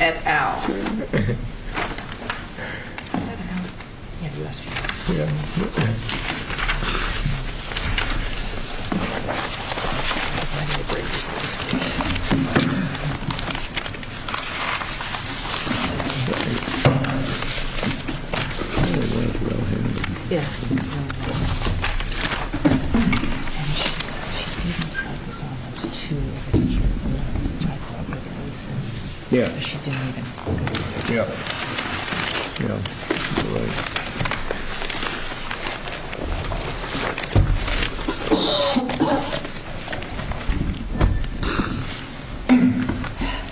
et al. I don't know. Yeah, you asked for it. Yeah. I need to bring this to this place. Yeah. And she didn't like this almost too much. Yeah. Yeah. Yeah.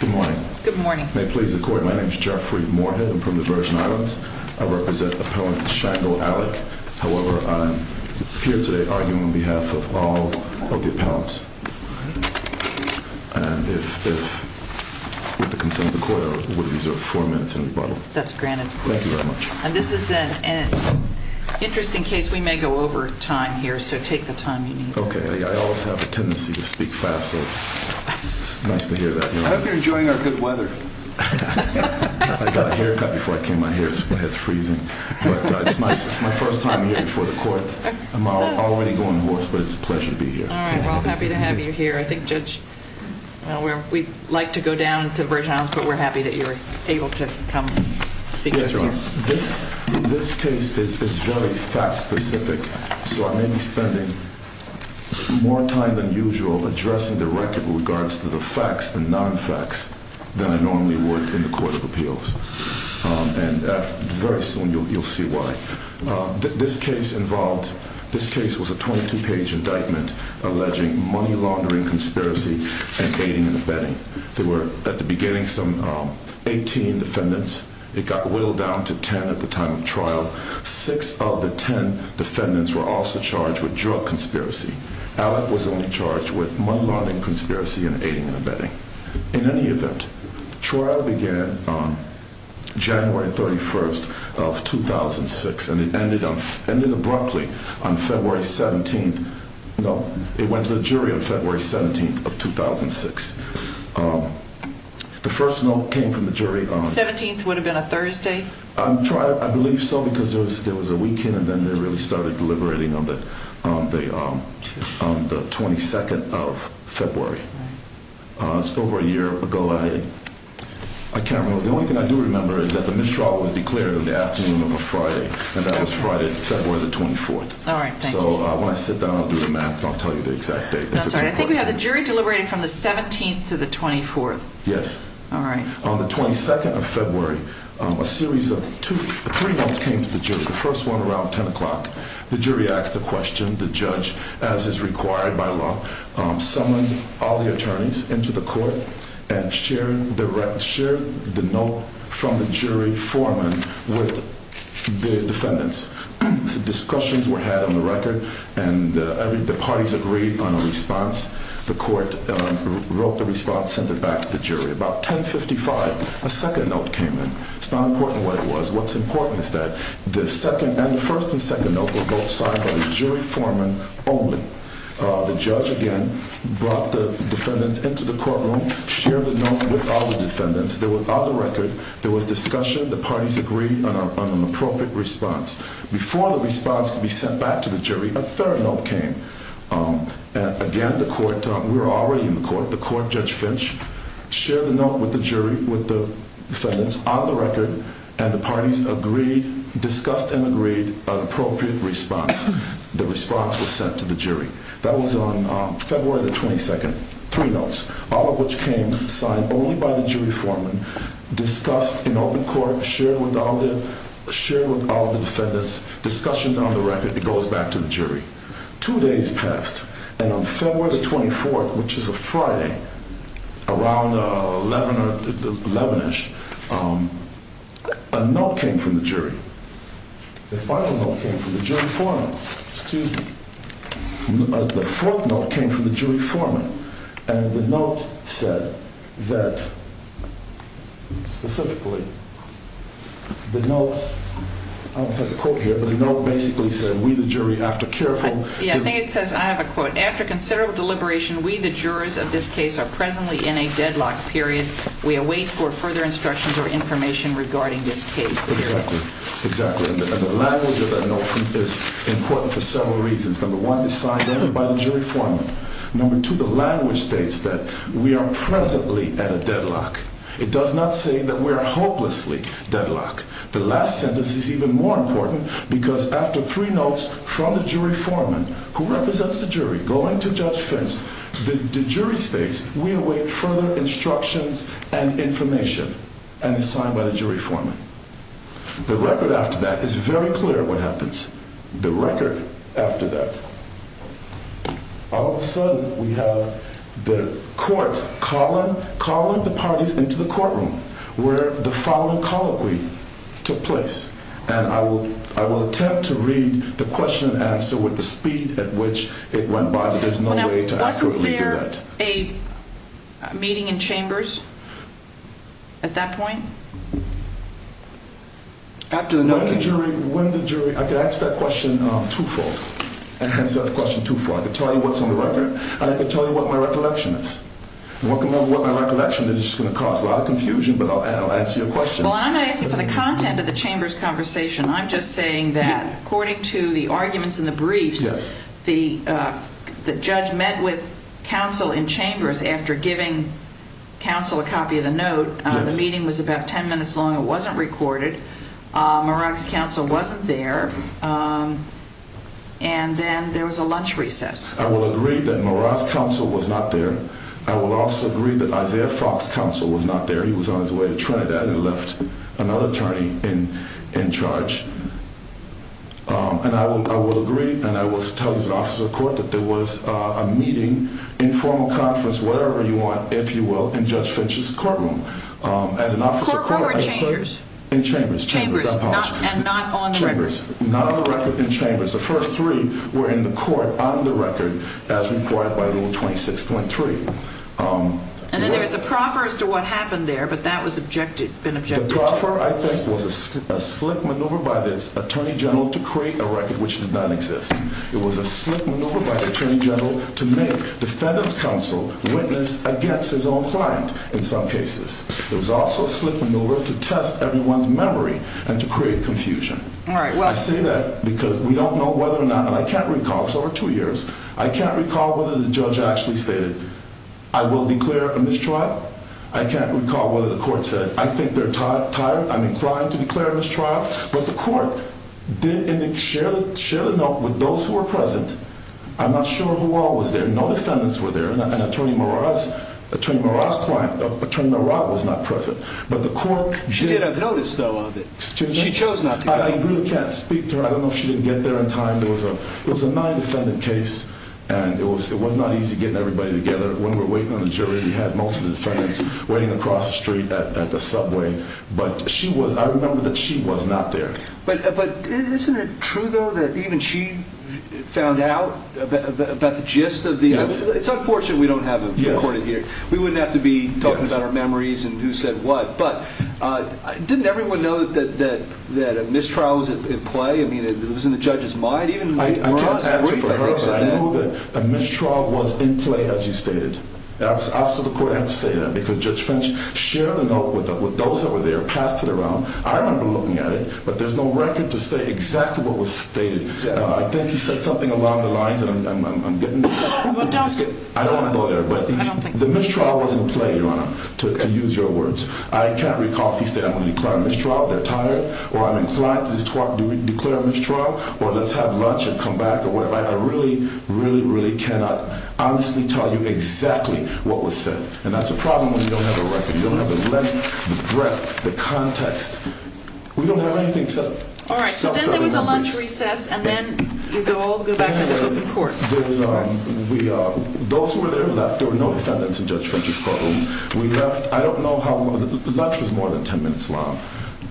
Good morning. Good morning. May it please the court, my name is Jeffrey Moorhead, I'm from the Virgin Islands. I represent Appellant Shango Allick. However, I'm here today arguing on behalf of all of the appellants. And with the consent of the court, I would reserve four minutes in rebuttal. That's granted. Thank you very much. And this is an interesting case. We may go over time here, so take the time you need. Okay. I always have a tendency to speak fast, so it's nice to hear that. I hope you're enjoying our good weather. I got a haircut before I came out here. My head's freezing. But it's nice. It's my first time here before the court. I'm already going hoarse, but it's a pleasure to be here. All right. Well, I'm happy to have you here. I think, Judge, we'd like to go down to the Virgin Islands, but we're happy that you're able to come speak to us here. Yes, Your Honor. This case is very fact-specific, so I may be spending more time than usual addressing the record with regards to the facts and non-facts than I normally would in the Court of Appeals. And very soon you'll see why. This case was a 22-page indictment alleging money laundering conspiracy and aiding and abetting. There were, at the beginning, some 18 defendants. It got whittled down to 10 at the time of trial. Six of the 10 defendants were also charged with drug conspiracy. Alec was only charged with money laundering conspiracy and aiding and abetting. In any event, trial began January 31st of 2006, and it ended abruptly on February 17th. No, it went to the jury on February 17th of 2006. The first note came from the jury on... The 17th would have been a Thursday? On trial, I believe so, because there was a weekend, and then they really started deliberating on the 22nd of February. It's over a year ago. I can't remember. The only thing I do remember is that the mistrial was declared on the afternoon of a Friday, and that was Friday, February 24th. All right, thank you. So when I sit down, I'll do the math, and I'll tell you the exact date. I'm sorry. I think we have the jury deliberating from the 17th to the 24th. Yes. All right. On the 22nd of February, a series of three notes came to the jury. The first one around 10 o'clock. The jury asked a question. The judge, as is required by law, summoned all the attorneys into the court and shared the note from the jury foreman with the defendants. Discussions were had on the record, and the parties agreed on a response. The court wrote the response and sent it back to the jury. About 10.55, a second note came in. It's not important what it was. What's important is that the first and second note were both signed by the jury foreman only. The judge, again, brought the defendants into the courtroom, shared the note with all the defendants. On the record, there was discussion. The parties agreed on an appropriate response. Before the response could be sent back to the jury, a third note came. Again, we were already in the court. The court, Judge Finch, shared the note with the jury, with the defendants, on the record, and the parties agreed, discussed and agreed an appropriate response. The response was sent to the jury. That was on February the 22nd. Three notes, all of which came signed only by the jury foreman, discussed in open court, shared with all the defendants, discussions on the record. It goes back to the jury. Two days passed, and on February the 24th, which is a Friday, around 11 or 11ish, a note came from the jury. The final note came from the jury foreman. Excuse me. The fourth note came from the jury foreman, and the note said that, specifically, the note, I'll put a quote here, but the note basically said, we, the jury, after careful... Yeah, I think it says, I have a quote, after considerable deliberation, we, the jurors of this case, are presently in a deadlock, period. We await for further instructions or information regarding this case, period. Exactly. And the language of that note is important for several reasons. Number one, it's signed only by the jury foreman. Number two, the language states that we are presently at a deadlock. It does not say that we are hopelessly deadlocked. The last sentence is even more important, because after three notes from the jury foreman, who represents the jury, going to Judge Fentz, the jury states, we await further instructions and information, and it's signed by the jury foreman. The record after that is very clear what happens. The record after that. All of a sudden, we have the court calling the parties into the courtroom, where the following colloquy took place, and I will attempt to read the question and answer with the speed at which it went by, but there's no way to accurately do that. Now, wasn't there a meeting in chambers at that point? When the jury... I could answer that question twofold. I could tell you what's on the record, and I could tell you what my recollection is. What my recollection is is going to cause a lot of confusion, but I'll answer your question. Well, I'm not asking for the content of the chamber's conversation. I'm just saying that according to the arguments in the briefs, the judge met with counsel in chambers after giving counsel a copy of the note. The meeting was about ten minutes long. It wasn't recorded. Murad's counsel wasn't there, and then there was a lunch recess. I will agree that Murad's counsel was not there. I will also agree that Isaiah Fox's counsel was not there. He was on his way to Trinidad and left another attorney in charge. And I will agree, and I will tell you as an officer of court, that there was a meeting, informal conference, whatever you want, if you will, in Judge Finch's courtroom. Courtroom or chambers? In chambers. Chambers, and not on the record? Chambers. Not on the record in chambers. The first three were in the court on the record as required by Rule 26.3. And then there was a proffer as to what happened there, but that was been objected to. The proffer, I think, was a slick maneuver by the attorney general to create a record which did not exist. It was a slick maneuver by the attorney general to make the defendant's counsel witness against his own client in some cases. It was also a slick maneuver to test everyone's memory and to create confusion. I say that because we don't know whether or not, and I can't recall, it's over two years, I can't recall whether the judge actually stated, I will declare a mistrial. I can't recall whether the court said, I think they're tired. I'm inclined to declare a mistrial. But the court did share the note with those who were present. I'm not sure who all was there. No defendants were there. And Attorney Marat's client, Attorney Marat, was not present. She did have notice, though, of it. She chose not to go. I really can't speak to her. I don't know if she didn't get there in time. It was a non-defendant case, and it was not easy getting everybody together. When we were waiting on the jury, we had most of the defendants waiting across the street at the subway. But she was, I remember that she was not there. But isn't it true, though, that even she found out about the gist of the, it's unfortunate we don't have it recorded here. We wouldn't have to be talking about our memories and who said what. But didn't everyone know that a mistrial was in play? I mean, it was in the judge's mind? I can't answer for her, but I know that a mistrial was in play, as you stated. The Office of the Court had to say that because Judge French shared the note with those that were there, passed it around. I remember looking at it, but there's no record to say exactly what was stated. I think he said something along the lines, and I'm getting there. I don't want to go there. But the mistrial was in play, Your Honor, to use your words. I can't recall if he said, I'm going to declare a mistrial if they're tired, or I'm inclined to declare a mistrial, or let's have lunch and come back, or whatever. I really, really, really cannot honestly tell you exactly what was said. And that's a problem when you don't have a record. You don't have the length, the breadth, the context. We don't have anything except self-serving members. All right, but then there was a lunch recess, and then they all go back to the Supreme Court. Those who were there left. There were no defendants in Judge French's courtroom. We left. I don't know how long. The lunch was more than 10 minutes long.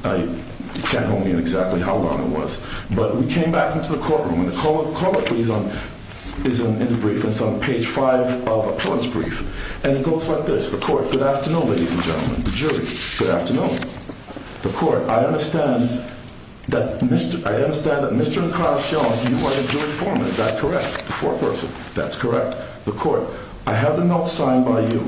I can't hold me on exactly how long it was. But we came back into the courtroom, and the corollary is in the brief. It's on page 5 of the appellant's brief. And it goes like this. The court, good afternoon, ladies and gentlemen. The jury, good afternoon. The court, I understand that Mr. and Carl Schoen, you are the jury foreman. Is that correct? The foreperson, that's correct. The court, I have the note signed by you.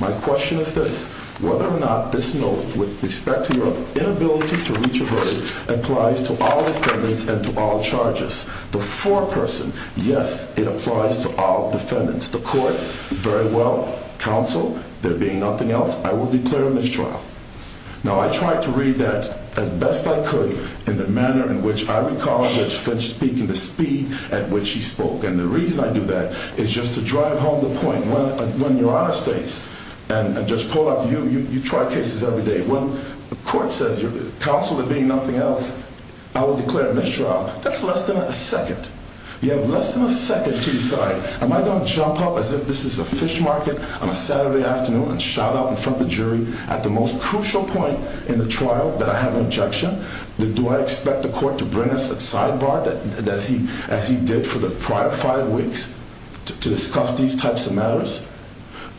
My question is this. Whether or not this note would respect your inability to reach a verdict applies to all defendants and to all charges. The foreperson, yes, it applies to all defendants. The court, very well. Counsel, there being nothing else, I will declare a mistrial. Now, I tried to read that as best I could in the manner in which I recall Judge Finch speaking, the speed at which he spoke. And the reason I do that is just to drive home the point. When your Honor states, and Judge Polak, you try cases every day. When the court says, counsel, there being nothing else, I will declare a mistrial. That's less than a second. You have less than a second to decide. Am I going to jump up as if this is a fish market on a Saturday afternoon and shout out in front of the jury at the most crucial point in the trial that I have an objection? Do I expect the court to bring us a sidebar as he did for the prior five weeks to discuss these types of matters?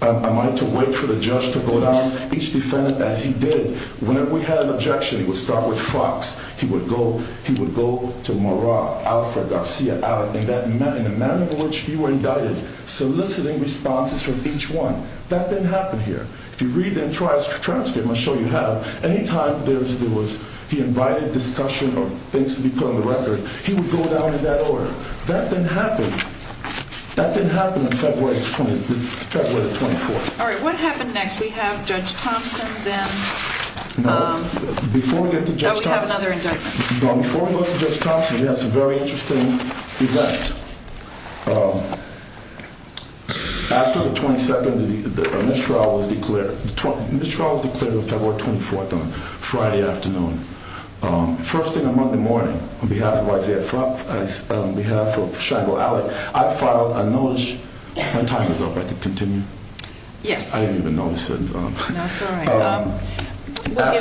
Am I to wait for the judge to go down each defendant as he did? Whenever we had an objection, he would start with Fox. He would go to Mora, Alfred, Garcia, Allen, in the manner in which you were indicted, soliciting responses from each one. That didn't happen here. If you read the transcript, I'm sure you have, any time there was, he invited discussion or things to be put on the record, he would go down in that order. That didn't happen. That didn't happen on February 24th. All right, what happened next? We have Judge Thompson then. Before we get to Judge Thompson. We have another indictment. Before we get to Judge Thompson, we have some very interesting events. After the 22nd, the mistrial was declared. The mistrial was declared on February 24th on Friday afternoon. First thing on Monday morning, on behalf of Isaiah Fox, on behalf of Shango Alley, I filed a notice. My time is up, I can continue. Yes. I didn't even notice it. No, it's all right. We'll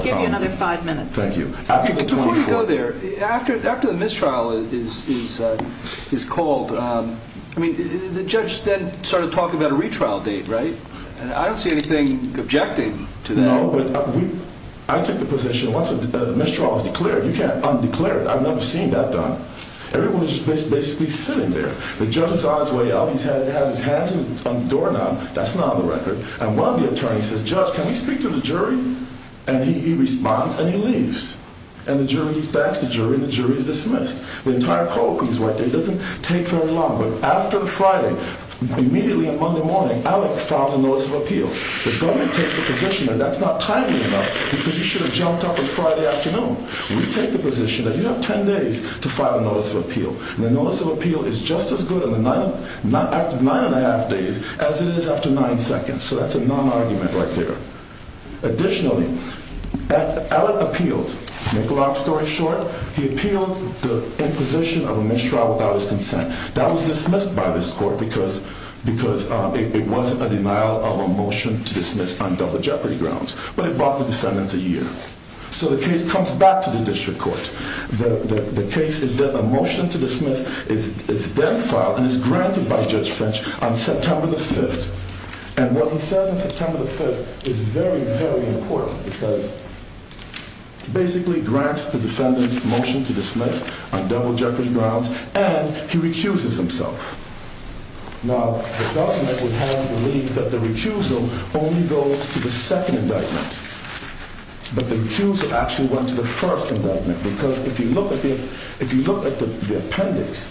give you another five minutes. Thank you. Before we go there, after the mistrial is called, the judge then started talking about a retrial date, right? I don't see anything objecting to that. No, but I took the position once the mistrial was declared, you can't undeclare it. I've never seen that done. Everyone was just basically sitting there. The judge saw his way out, he has his hands on the doorknob, that's not on the record. And one of the attorneys says, judge, can we speak to the jury? And he responds and he leaves. And the jury, he backs the jury and the jury is dismissed. The entire co-op, he's right there, it doesn't take very long. But after the Friday, immediately on Monday morning, Alec files a notice of appeal. The government takes the position that that's not timely enough because you should have jumped up on Friday afternoon. We take the position that you have 10 days to file a notice of appeal. And the notice of appeal is just as good after nine and a half days as it is after nine seconds. So that's a non-argument right there. Additionally, Alec appealed, to make a long story short, he appealed the imposition of a mistrial without his consent. That was dismissed by this court because it wasn't a denial of a motion to dismiss on double jeopardy grounds. But it brought the defendants a year. So the case comes back to the district court. The case is that a motion to dismiss is then filed and is granted by Judge Finch on September the 5th. And what he says on September the 5th is very, very important. It says, basically grants the defendants motion to dismiss on double jeopardy grounds and he recuses himself. Now, the government would have believed that the recusal only goes to the second indictment. But the recusal actually went to the first indictment. Because if you look at the appendix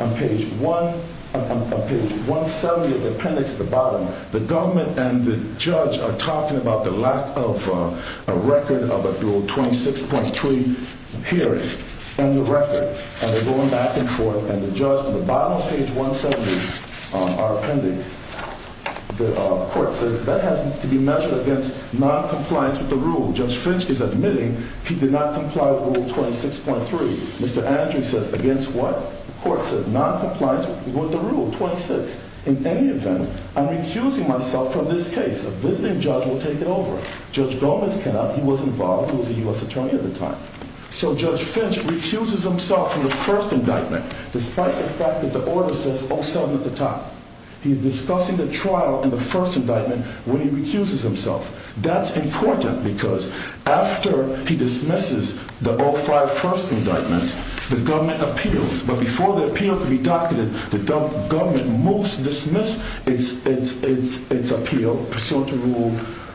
on page 170 of the appendix at the bottom, the government and the judge are talking about the lack of a record of a dual 26.3 hearing and the record. And they're going back and forth. And the judge at the bottom of page 170, our appendix, the court says that has to be measured against noncompliance with the rule. Judge Finch is admitting he did not comply with rule 26.3. Mr. Andrews says against what? The court says noncompliance with the rule 26. In any event, I'm recusing myself from this case. A visiting judge will take it over. Judge Gomez cannot. He was involved. He was a U.S. attorney at the time. So Judge Finch recuses himself from the first indictment despite the fact that the order says 07 at the top. He's discussing the trial in the first indictment when he recuses himself. That's important because after he dismisses the 05 first indictment, the government appeals. But before the appeal can be docketed, the government must dismiss its appeal pursuant to rule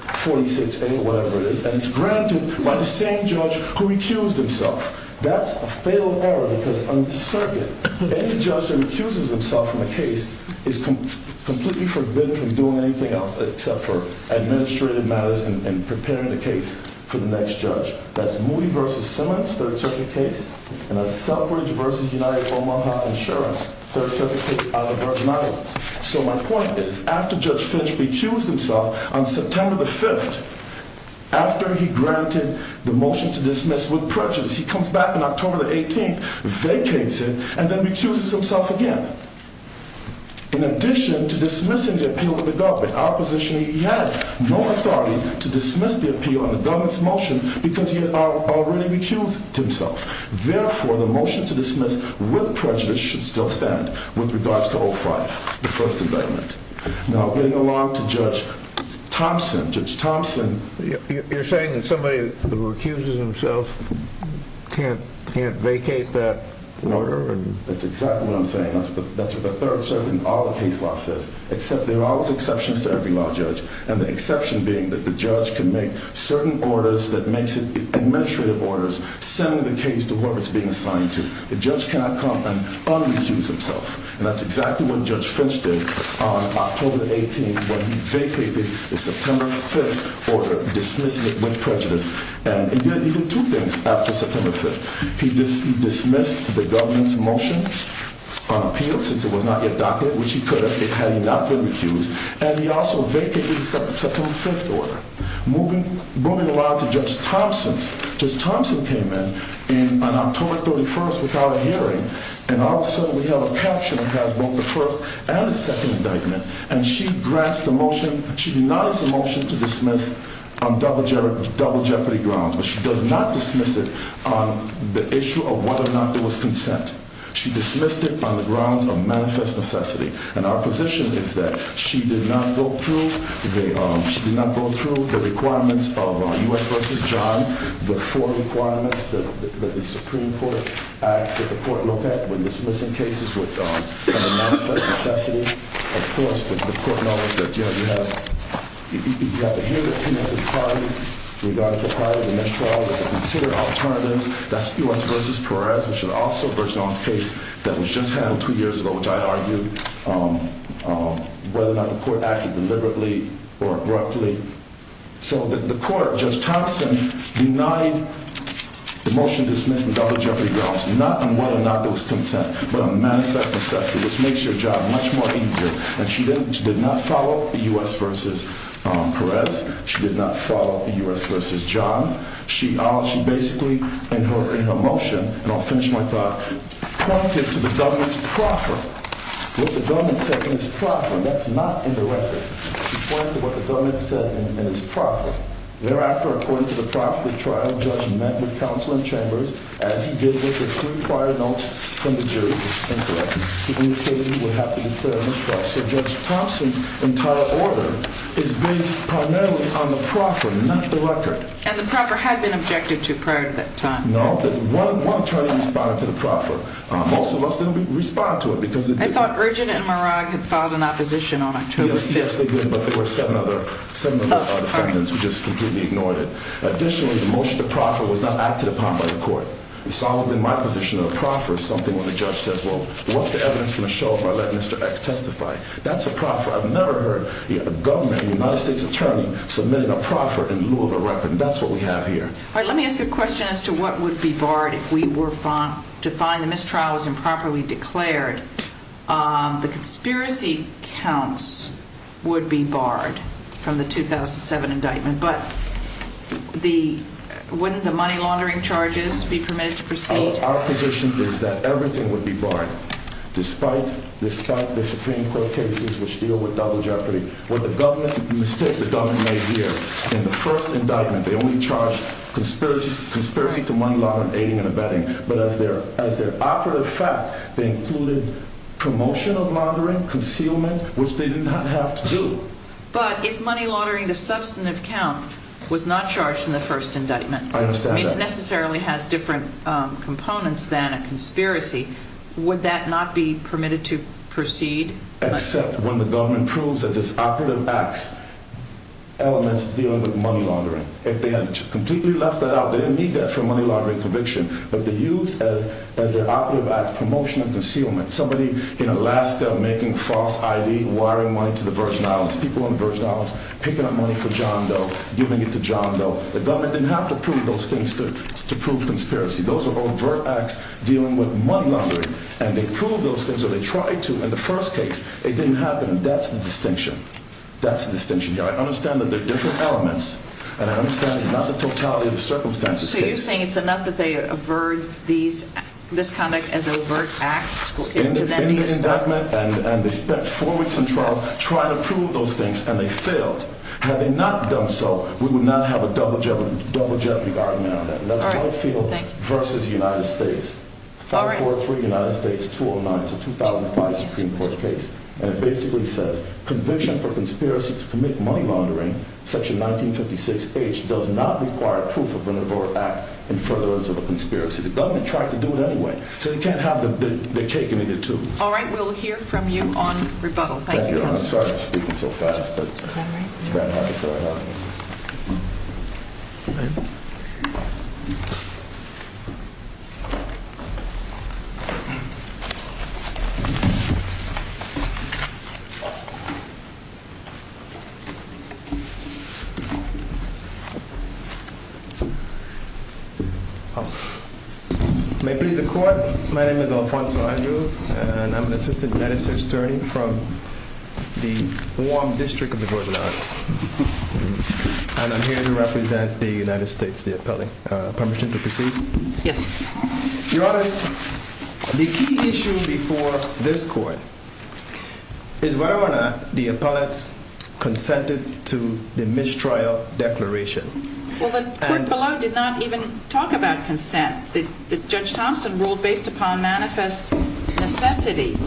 46A or whatever it is. And it's granted by the same judge who recused himself. That's a fatal error because on the circuit, any judge who recuses himself from a case is completely forbidden from doing anything else except for administrative matters and preparing the case for the next judge. That's Moody v. Simmons, third circuit case. And that's Selfridge v. United Omaha Insurance, third circuit case out of Virgin Islands. So my point is, after Judge Finch recused himself on September the 5th, after he granted the motion to dismiss with prejudice, he comes back on October the 18th, vacates it, and then recuses himself again. In addition to dismissing the appeal to the government opposition, he had no authority to dismiss the appeal on the government's motion because he had already recused himself. Therefore, the motion to dismiss with prejudice should still stand with regards to 05, the first indictment. Now, getting along to Judge Thompson, Judge Thompson. You're saying that somebody who recuses himself can't vacate that order? That's exactly what I'm saying. That's what the third circuit and all the case law says, except there are always exceptions to every law, Judge. And the exception being that the judge can make certain orders that makes it administrative orders, sending the case to where it's being assigned to. The judge cannot come and unrecuse himself. And that's exactly what Judge Finch did on October the 18th when he vacated the September 5th order, dismissing it with prejudice. And he did two things after September 5th. He dismissed the government's motion on appeal, since it was not yet docketed, which he could have had he not been recused. And he also vacated the September 5th order. Moving along to Judge Thompson. Judge Thompson came in on October 31st without a hearing, and all of a sudden we have a caption that has both the first and the second indictment. And she grants the motion. She denies the motion to dismiss on double jeopardy grounds. But she does not dismiss it on the issue of whether or not there was consent. She dismissed it on the grounds of manifest necessity. And our position is that she did not go through the requirements of U.S. v. John, the four requirements that the Supreme Court acts that the court looked at when dismissing cases with manifest necessity. Of course, the court knows that you have to hear the plaintiff's party in regard to the mistrial. You have to consider alternatives. That's U.S. v. Perez, which is also Verzon's case that was just handled two years ago, which I argued whether or not the court acted deliberately or abruptly. So the court, Judge Thompson, denied the motion dismissed on double jeopardy grounds. Not on whether or not there was consent, but on manifest necessity, which makes your job much more easier. And she did not follow U.S. v. Perez. She did not follow U.S. v. John. She basically, in her motion, and I'll finish my thought, pointed to the government's proffer, what the government said in its proffer. And that's not indirect. She pointed to what the government said in its proffer. Thereafter, according to the proffer, the trial judge met with counsel in chambers, as he did with the three prior notes from the jury. To indicate he would have to declare mistrust. So Judge Thompson's entire order is based primarily on the proffer, not the record. And the proffer had been objected to prior to that time. No. One attorney responded to the proffer. Most of us didn't respond to it because it didn't. I thought Virgin and Murag had filed an opposition on October 5th. Yes, they did, but there were seven other defendants who just completely ignored it. Additionally, the motion to proffer was not acted upon by the court. It's always been my position that a proffer is something when the judge says, well, what's the evidence going to show if I let Mr. X testify? That's a proffer. I've never heard a government, a United States attorney, submitting a proffer in lieu of a record. And that's what we have here. All right, let me ask a question as to what would be barred if we were to find the mistrial was improperly declared. The conspiracy counts would be barred from the 2007 indictment. But wouldn't the money laundering charges be permitted to proceed? Our position is that everything would be barred, despite the Supreme Court cases which deal with double jeopardy. With the mistakes the government made here in the first indictment, they only charged conspiracy to money laundering, aiding and abetting. But as their operative fact, they included promotion of laundering, concealment, which they did not have to do. But if money laundering, the substantive count, was not charged in the first indictment. I understand that. I mean, it necessarily has different components than a conspiracy. Would that not be permitted to proceed? Except when the government proves that it's operative acts elements dealing with money laundering. If they had completely left that out, they didn't need that for money laundering conviction. But they used as their operative acts promotion and concealment. Somebody in Alaska making false ID, wiring money to the Virgin Islands. People in the Virgin Islands picking up money for John Doe, giving it to John Doe. The government didn't have to prove those things to prove conspiracy. Those are overt acts dealing with money laundering. And they proved those things or they tried to in the first case. And that's the distinction. That's the distinction. I understand that they're different elements. And I understand it's not the totality of the circumstances. So you're saying it's enough that they avert this conduct as overt acts? In the indictment, and they spent four weeks in trial trying to prove those things, and they failed. Had they not done so, we would not have a double jeopardy argument on that. That's Whitefield v. United States. 5403 United States 209. It's a 2005 Supreme Court case. And it basically says, conviction for conspiracy to commit money laundering, Section 1956H, does not require proof of an overt act in furtherance of a conspiracy. The government tried to do it anyway. So they can't have the cake and eat it too. All right. We'll hear from you on rebuttal. Thank you. Thank you. I'm sorry for speaking so fast. Is that all right? All right. May it please the court. My name is Alfonso Andrews. And I'm an assistant justice attorney from the warm district of the Northern Islands. And I'm here to represent the United States, the appellate. Permission to proceed? Yes. Your Honor, the key issue before this court is whether or not the appellate consented to the mistrial declaration. Well, the court below did not even talk about consent. Judge Thompson ruled based upon manifest necessity.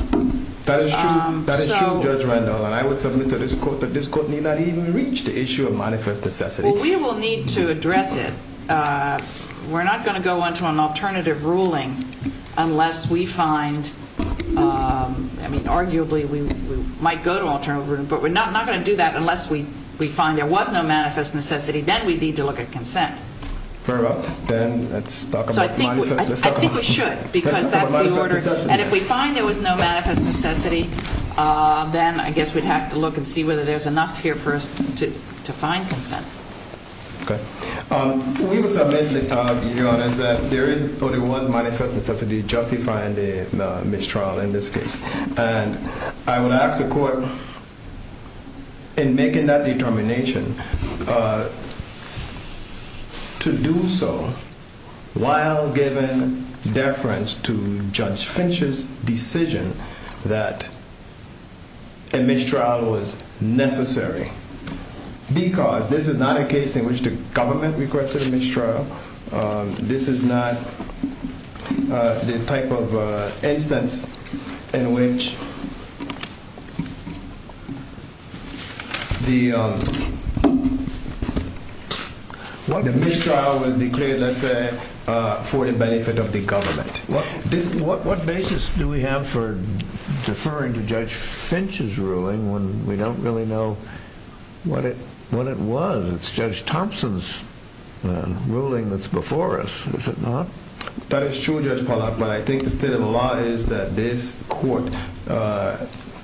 That is true. That is true, Judge Randolph. And I would submit to this court that this court may not even reach the issue of manifest necessity. Well, we will need to address it. We're not going to go on to an alternative ruling unless we find, I mean, arguably we might go to alternative ruling. But we're not going to do that unless we find there was no manifest necessity. Then we'd need to look at consent. Fair enough. Then let's talk about manifest necessity. I think we should because that's the order. And if we find there was no manifest necessity, then I guess we'd have to look and see whether there's enough here for us to find consent. Okay. We would submit to the court, Your Honor, that there was manifest necessity justifying the mistrial in this case. And I would ask the court in making that determination to do so while giving deference to Judge Finch's decision that a mistrial was necessary. Because this is not a case in which the government requested a mistrial. This is not the type of instance in which the mistrial was declared, let's say, for the benefit of the government. What basis do we have for deferring to Judge Finch's ruling when we don't really know what it was? It's Judge Thompson's ruling that's before us, is it not? That is true, Judge Pollack. But I think the state of the law is that this court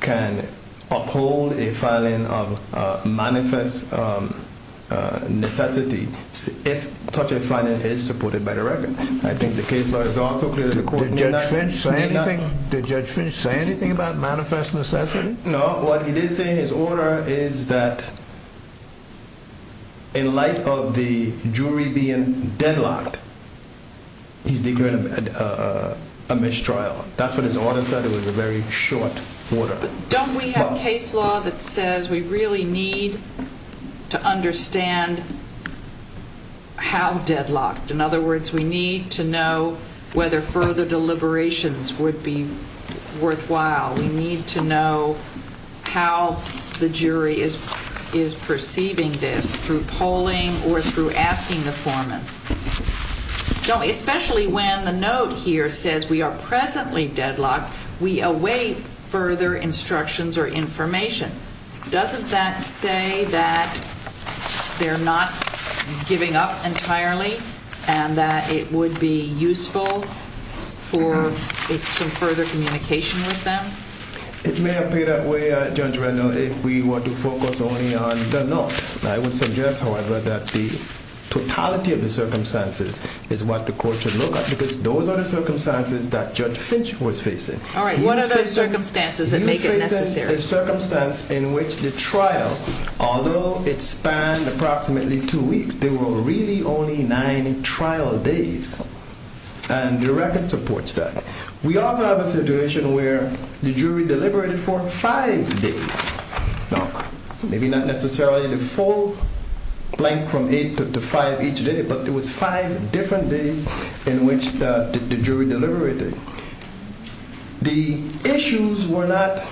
can uphold a filing of manifest necessity if such a filing is supported by the record. I think the case law is also clear. Did Judge Finch say anything about manifest necessity? No. But what he did say in his order is that in light of the jury being deadlocked, he's declaring a mistrial. That's what his order said. It was a very short order. But don't we have case law that says we really need to understand how deadlocked? In other words, we need to know whether further deliberations would be worthwhile. We need to know how the jury is perceiving this through polling or through asking the foreman. Especially when the note here says we are presently deadlocked, we await further instructions or information. Doesn't that say that they're not giving up entirely and that it would be useful for some further communication with them? It may appear that way, Judge Reynolds, if we were to focus only on the note. I would suggest, however, that the totality of the circumstances is what the court should look at because those are the circumstances that Judge Finch was facing. All right. What are those circumstances that make it necessary? A circumstance in which the trial, although it spanned approximately two weeks, there were really only nine trial days. And the record supports that. We also have a situation where the jury deliberated for five days. Now, maybe not necessarily the full blank from eight to five each day, but it was five different days in which the jury deliberated. The issues were not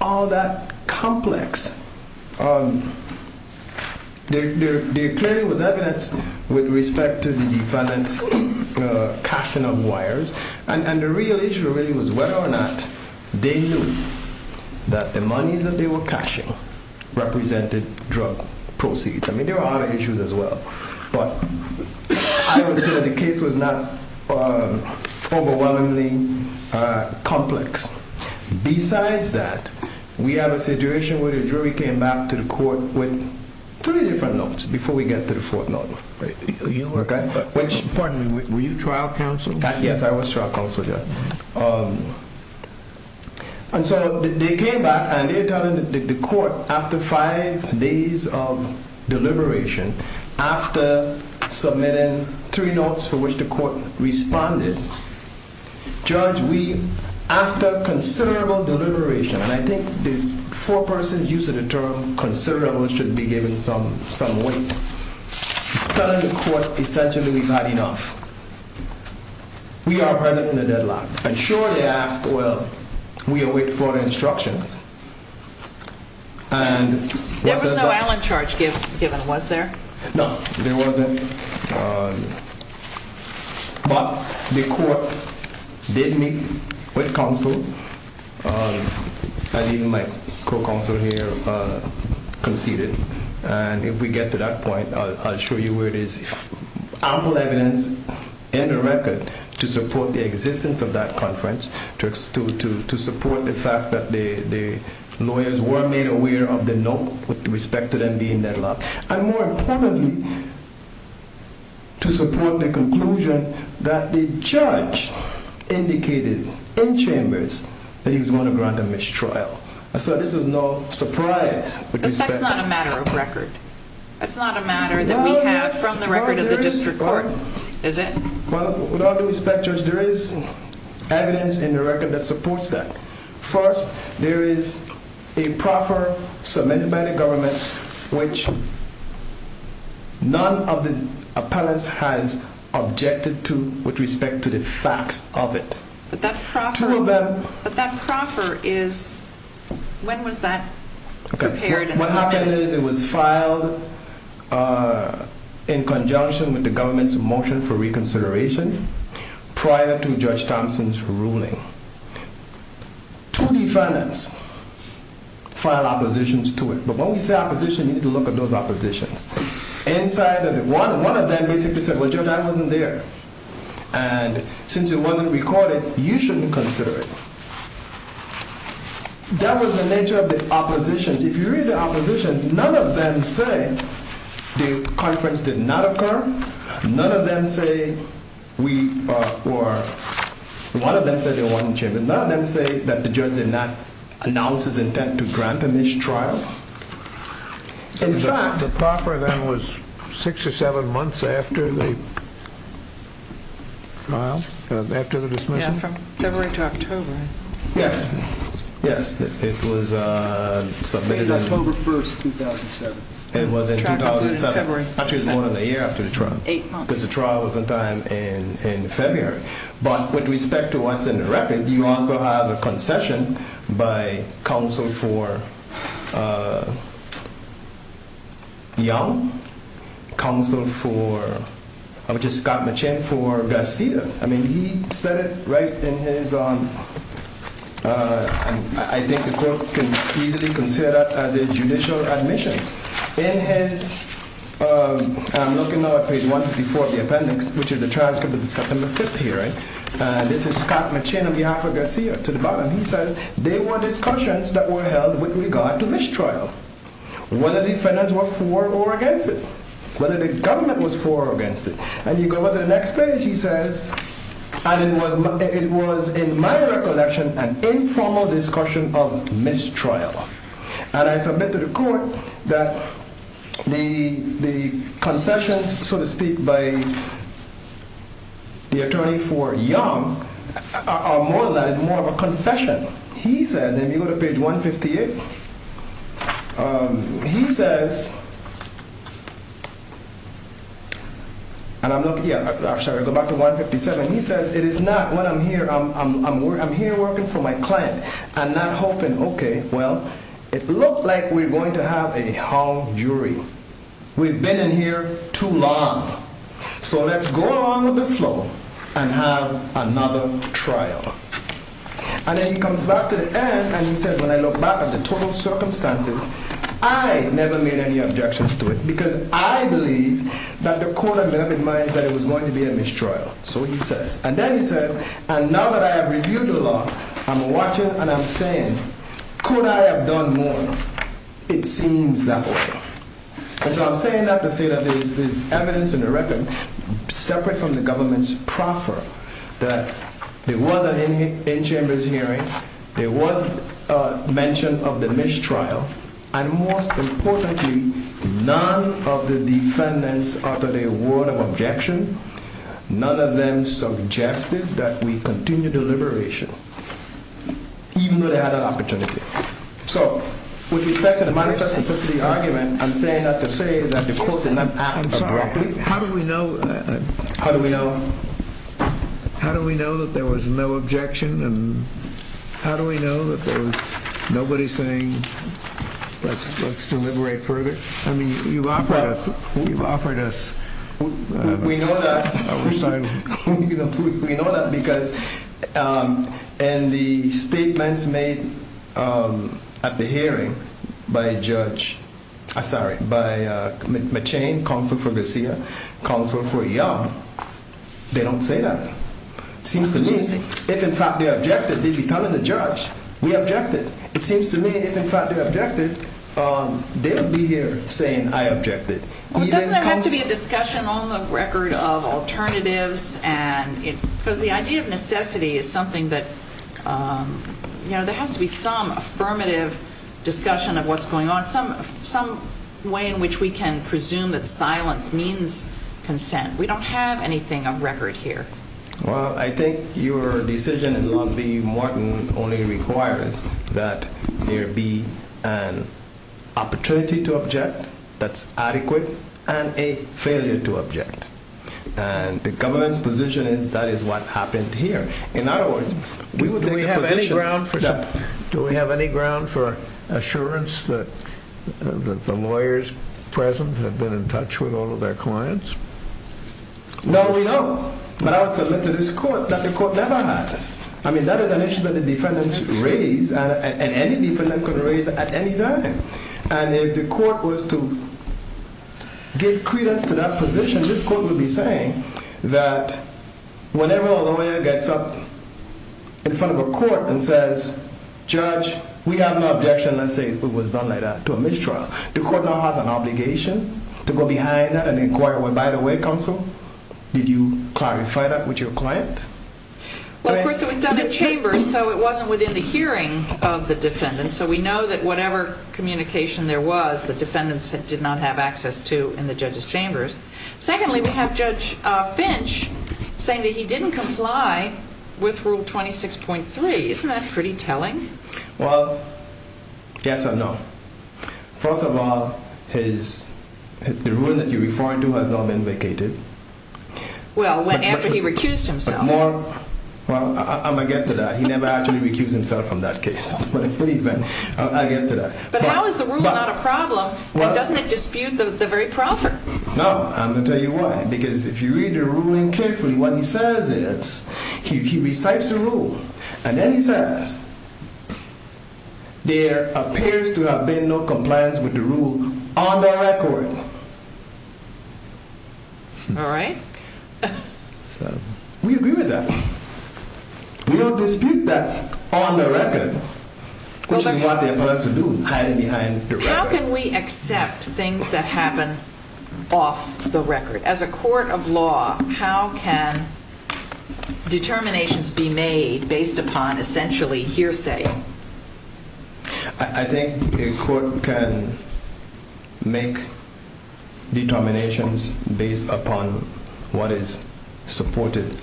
all that complex. There clearly was evidence with respect to the finance cashing of wires. And the real issue really was whether or not they knew that the monies that they were cashing represented drug proceeds. I mean, there were other issues as well. But I would say the case was not overwhelmingly complex. Besides that, we have a situation where the jury came back to the court with three different notes before we get to the fourth note. Pardon me, were you trial counsel? Yes, I was trial counsel, Judge. And so they came back and they're telling the court after five days of deliberation, after submitting three notes for which the court responded. Judge, we, after considerable deliberation, and I think the four persons use of the term considerable should be given some weight. It's telling the court essentially we've had enough. We are present in the deadlock. And sure, they ask, well, we await further instructions. There was no Allen charge given, was there? No, there wasn't. But the court did meet with counsel, and even my co-counsel here conceded. And if we get to that point, I'll show you where there's ample evidence in the record to support the existence of that conference, to support the fact that the lawyers were made aware of the note with respect to them being deadlocked. And more importantly, to support the conclusion that the judge indicated in chambers that he was going to grant a mistrial. So this is no surprise. But that's not a matter of record. That's not a matter that we have from the record of the district court, is it? Well, with all due respect, Judge, there is evidence in the record that supports that. First, there is a proffer submitted by the government which none of the appellants has objected to with respect to the facts of it. But that proffer is, when was that prepared and submitted? What happened is it was filed in conjunction with the government's motion for reconsideration prior to Judge Thompson's ruling. Two defendants filed oppositions to it. But when we say opposition, you need to look at those oppositions. Inside of it, one of them basically said, well, Judge Thompson wasn't there. And since it wasn't recorded, you shouldn't consider it. That was the nature of the oppositions. If you read the oppositions, none of them say the conference did not occur. None of them say we were, one of them said it wasn't chambered. None of them say that the judge did not announce his intent to grant a mistrial. The proffer then was six or seven months after the trial, after the dismissal? Yeah, from February to October. Yes, yes. It was submitted on October 1st, 2007. It was in 2007. Actually, it was more than a year after the trial. Eight months. Because the trial was on time in February. But with respect to what's in the record, you also have a concession by counsel for Young. Counsel for, which is Scott Machin, for Garcia. I mean, he said it right in his, I think the court can easily consider it as a judicial admission. In his, I'm looking now at page 154 of the appendix, which is the transcript of the September 5th hearing. This is Scott Machin on behalf of Garcia to the bottom. He says, there were discussions that were held with regard to mistrial. Whether the defendants were for or against it. Whether the government was for or against it. And you go over to the next page, he says, and it was in my recollection an informal discussion of mistrial. And I submit to the court that the concessions, so to speak, by the attorney for Young are more than that. It's more of a confession. He says, if you go to page 158, he says, and I'm looking, yeah, I'm sorry, I'll go back to 157. He says, it is not what I'm here, I'm here working for my client. I'm not hoping, okay, well, it looked like we're going to have a hall jury. We've been in here too long. So let's go along with the flow and have another trial. And then he comes back to the end and he says, when I look back at the total circumstances, I never made any objections to it. Because I believe that the court had left in mind that it was going to be a mistrial. So he says, and then he says, and now that I have reviewed the law, I'm watching and I'm saying, could I have done more? It seems that way. And so I'm saying that to say that there is evidence in the record separate from the government's proffer that there was an in-chambers hearing. There was a mention of the mistrial. And most importantly, none of the defendants uttered a word of objection. None of them suggested that we continue deliberation. Even though they had an opportunity. So, with respect to the manifest consistency argument, I'm saying that to say that the court did not act abruptly. How do we know? How do we know? How do we know that there was no objection? And how do we know that there was nobody saying, let's deliberate further? I mean, you've offered us. You've offered us. We know that. We're sorry. We know that because, and the statements made at the hearing by judge, sorry, by McChain, counsel for Garcia, counsel for Young, they don't say that. Seems to me, if in fact they objected, they'd be telling the judge, we objected. It seems to me, if in fact they objected, they would be here saying, I objected. Doesn't there have to be a discussion on the record of alternatives? Because the idea of necessity is something that, you know, there has to be some affirmative discussion of what's going on. Some way in which we can presume that silence means consent. We don't have anything of record here. Well, I think your decision in law B, Morton, only requires that there be an opportunity to object that's adequate and a failure to object. And the government's position is that is what happened here. In other words, we would take the position. Do we have any ground for assurance that the lawyers present have been in touch with all of their clients? No, we don't. But I would submit to this court that the court never has. I mean, that is an issue that the defendant should raise and any defendant could raise at any time. And if the court was to give credence to that position, this court would be saying that whenever a lawyer gets up in front of a court and says, judge, we have no objection. Let's say it was done like that to a mistrial. The court now has an obligation to go behind that and inquire, well, by the way, counsel, did you clarify that with your client? Well, of course, it was done in chambers, so it wasn't within the hearing of the defendant. So we know that whatever communication there was, the defendant did not have access to in the judge's chambers. Secondly, we have Judge Finch saying that he didn't comply with Rule 26.3. Isn't that pretty telling? Well, yes and no. First of all, the ruling that you're referring to has not been vacated. Well, after he recused himself. Well, I'm going to get to that. He never actually recused himself from that case. But I get to that. But how is the ruling not a problem? And doesn't it dispute the very proffer? No. I'm going to tell you why. Because if you read the ruling carefully, what he says is he recites the rule. And then he says, there appears to have been no compliance with the rule on the record. All right. We agree with that. We don't dispute that on the record, which is what they're supposed to do, hiding behind the record. How can we accept things that happen off the record? As a court of law, how can determinations be made based upon essentially hearsay? I think a court can make determinations based upon what is supported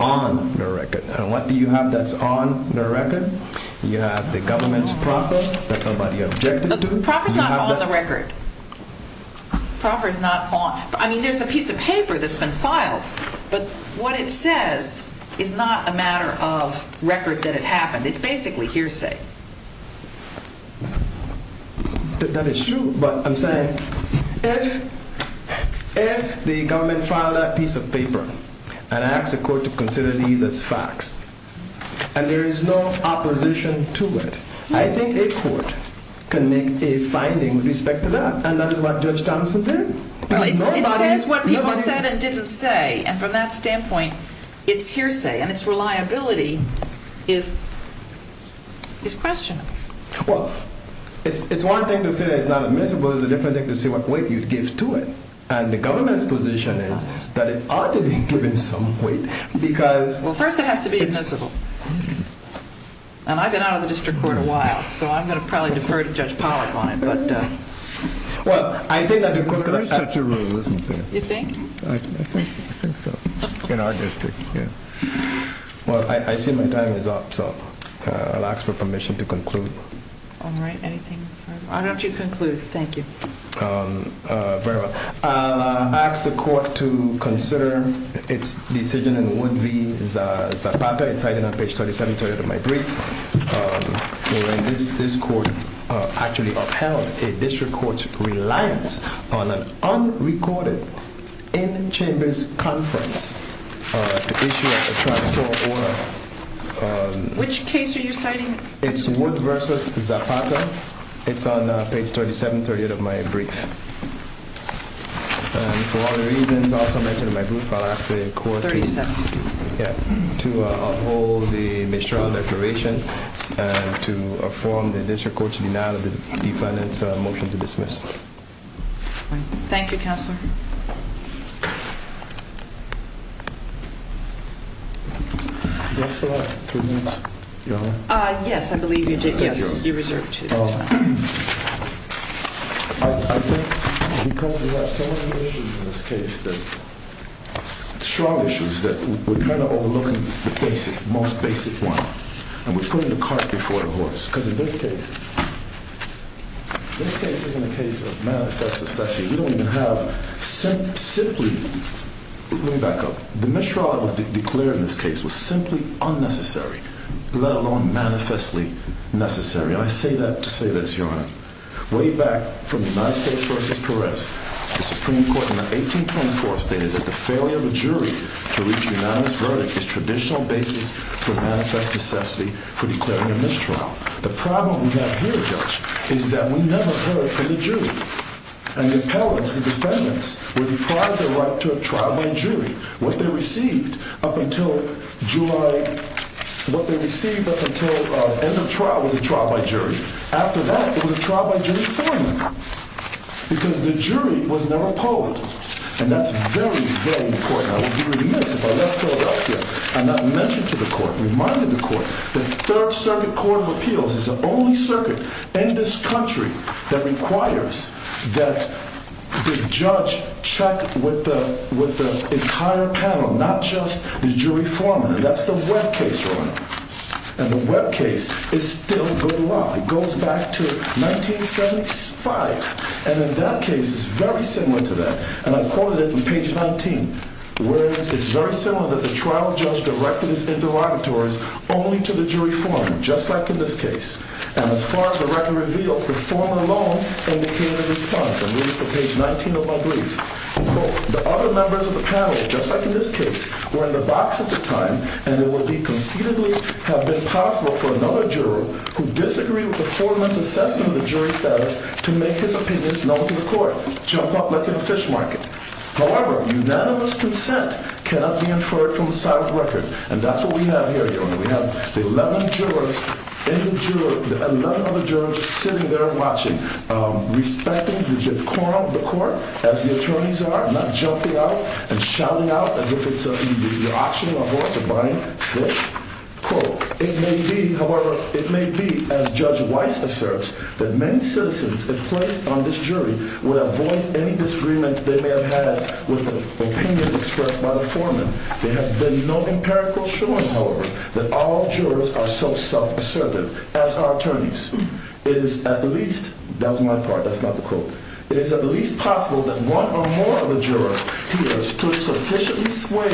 on the record. And what do you have that's on the record? You have the government's proffer that nobody objected to. The proffer's not on the record. The proffer's not on. I mean, there's a piece of paper that's been filed. But what it says is not a matter of record that it happened. It's basically hearsay. That is true. But I'm saying if the government filed that piece of paper and asked the court to consider these as facts, and there is no opposition to it, I think a court can make a finding with respect to that. And that is what Judge Thompson did. It says what people said and didn't say. And from that standpoint, it's hearsay. And its reliability is questionable. Well, it's one thing to say it's not admissible. It's a different thing to say what weight you give to it. And the government's position is that it ought to be given some weight because... Well, first it has to be admissible. And I've been out of the district court a while, so I'm going to probably defer to Judge Pollack on it. Well, I think that the court... There is such a rule, isn't there? You think? I think so. In our district, yeah. Well, I see my time is up, so I'll ask for permission to conclude. All right. Anything further? Why don't you conclude? Thank you. Very well. I'll ask the court to consider its decision in Wood v. Zapata. It's cited on page 37, 38 of my brief. This court actually upheld a district court's reliance on an unrecorded in-chambers conference to issue a transfer order. Which case are you citing? It's Wood v. Zapata. It's on page 37, 38 of my brief. And for other reasons, I also mentioned in my brief, I'll ask the court to... 37. Yeah. To uphold the magistrate declaration and to affirm the district court's denial of the defendant's motion to dismiss. Thank you, Counselor. Do I still have two minutes? Yes, I believe you do. Yes, you're reserved two. That's fine. I think because we have so many issues in this case, strong issues, that we're kind of overlooking the basic, most basic one. And we're putting the cart before the horse. Because in this case, this case isn't a case of manifest necessity. We don't even have simply... Let me back up. The mistrial that was declared in this case was simply unnecessary, let alone manifestly necessary. And I say that to say this, Your Honor. Way back from the United States v. Perez, the Supreme Court in 1824 stated that the failure of a jury to reach unanimous verdict is traditional basis for manifest necessity for declaring a mistrial. The problem we have here, Judge, is that we never heard from the jury. And the appellants, the defendants, were deprived the right to a trial by jury. What they received up until July... What they received up until end of trial was a trial by jury. After that, it was a trial by jury formally. Because the jury was never polled. And that's very, very important. I would be remiss if I left Philadelphia and not mention to the court, remind the court, that Third Circuit Court of Appeals is the only circuit in this country that requires that the judge check with the entire panel, not just the jury form. And that's the Webb case, Your Honor. And the Webb case is still good law. It goes back to 1975. And in that case, it's very similar to that. And I quoted it in page 19. Where it's very similar that the trial judge directed his interrogatories only to the jury form, just like in this case. And as far as the record reveals, the form alone indicated a response. And this is for page 19 of my brief. The other members of the panel, just like in this case, were in the box at the time. And it would conceivably have been possible for another juror who disagreed with the former's assessment of the jury's status to make his opinions known to the court. Jump up like in a fish market. However, unanimous consent cannot be inferred from a silent record. And that's what we have here, Your Honor. We have the 11 jurors in the jury, the 11 other jurors sitting there watching, respecting the court as the attorneys are, not jumping out and shouting out as if it's an auction or buying fish. Quote, it may be, however, it may be, as Judge Weiss asserts, that many citizens if placed on this jury would have voiced any disagreement they may have had with the opinion expressed by the foreman. There has been no empirical showing, however, that all jurors are so self-assertive as are attorneys. It is at least, that was my part, that's not the quote. It is at least possible that one or more of the jurors here stood sufficiently swayed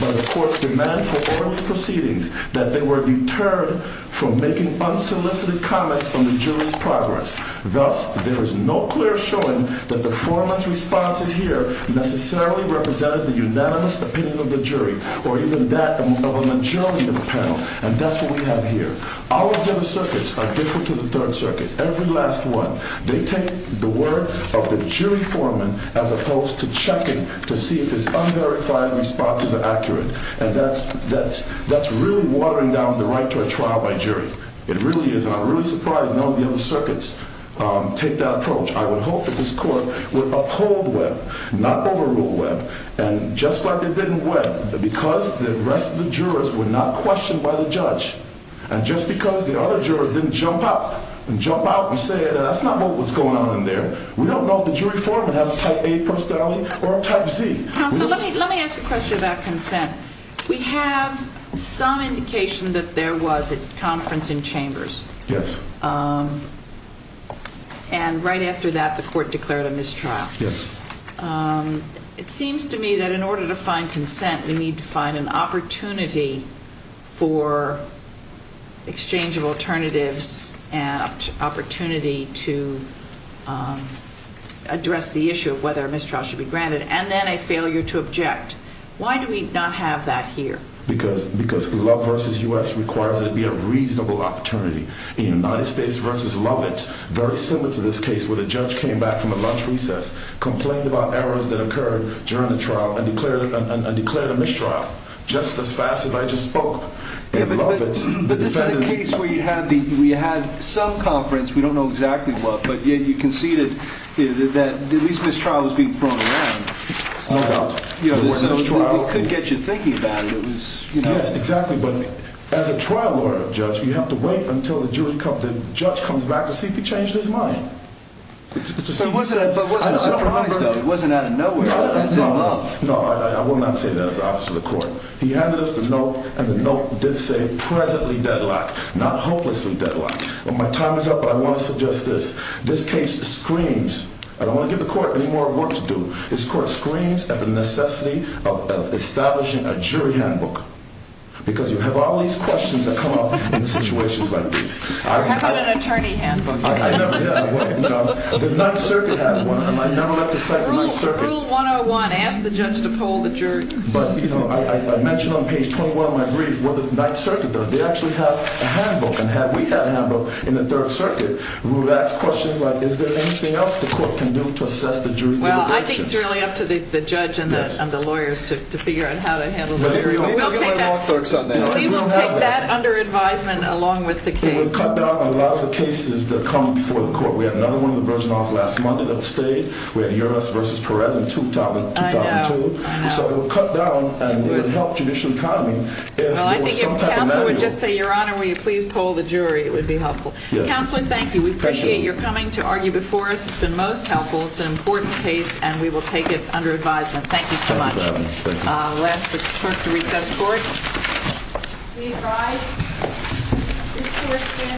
by the court's demand for oral proceedings that they were deterred from making unsolicited comments on the jury's progress. Thus, there is no clear showing that the foreman's responses here necessarily represented the unanimous opinion of the jury or even that of a majority of the panel. And that's what we have here. All of the other circuits are different to the Third Circuit, every last one. They take the word of the jury foreman as opposed to checking to see if his unverified responses are accurate. And that's really watering down the right to a trial by jury. It really is, and I'm really surprised none of the other circuits take that approach. I would hope that this court would uphold Webb, not overrule Webb. And just like it didn't Webb, because the rest of the jurors were not questioned by the judge, and just because the other jurors didn't jump out and say that's not what was going on in there. We don't know if the jury foreman has a Type A personality or a Type Z. Counsel, let me ask a question about consent. We have some indication that there was a conference in chambers. Yes. And right after that, the court declared a mistrial. Yes. It seems to me that in order to find consent, we need to find an opportunity for exchange of alternatives and opportunity to address the issue of whether a mistrial should be granted. And then a failure to object. Why do we not have that here? Because Love v. U.S. requires that it be a reasonable opportunity. In United States v. Lovett, very similar to this case where the judge came back from a lunch recess, complained about errors that occurred during the trial, and declared a mistrial just as fast as I just spoke. But this is a case where you had some conference, we don't know exactly what, but you conceded that at least mistrial was being thrown around. No doubt. It could get you thinking about it. Yes, exactly. But as a trial lawyer, judge, you have to wait until the judge comes back to see if he changed his mind. But it wasn't out of surprise, though. It wasn't out of nowhere. It was in Love. No, I will not say that as an officer of the court. He handed us the note, and the note did say, presently deadlocked, not hopelessly deadlocked. My time is up, but I want to suggest this. This case screams, I don't want to give the court any more work to do. This court screams at the necessity of establishing a jury handbook. Because you have all these questions that come up in situations like this. How about an attorney handbook? I know, yeah. The 9th Circuit has one, and I now have to cite the 9th Circuit. Rule 101, ask the judge to poll the jury. But, you know, I mentioned on page 21 of my brief what the 9th Circuit does. They actually have a handbook, and we had a handbook in the 3rd Circuit. We would ask questions like, is there anything else the court can do to assess the jury deliberations? Well, I think it's really up to the judge and the lawyers to figure out how to handle the jury. We will take that under advisement along with the case. We will cut down a lot of the cases that come before the court. We had another one that versioned off last Monday that stayed. We had Uras v. Perez in 2002. So we'll cut down and we'll help judicial economy. Well, I think if counsel would just say, Your Honor, will you please poll the jury, it would be helpful. Counsel, thank you. We appreciate your coming to argue before us. It's been most helpful. It's an important case, and we will take it under advisement. Thank you so much. We'll ask the clerk to recess the court.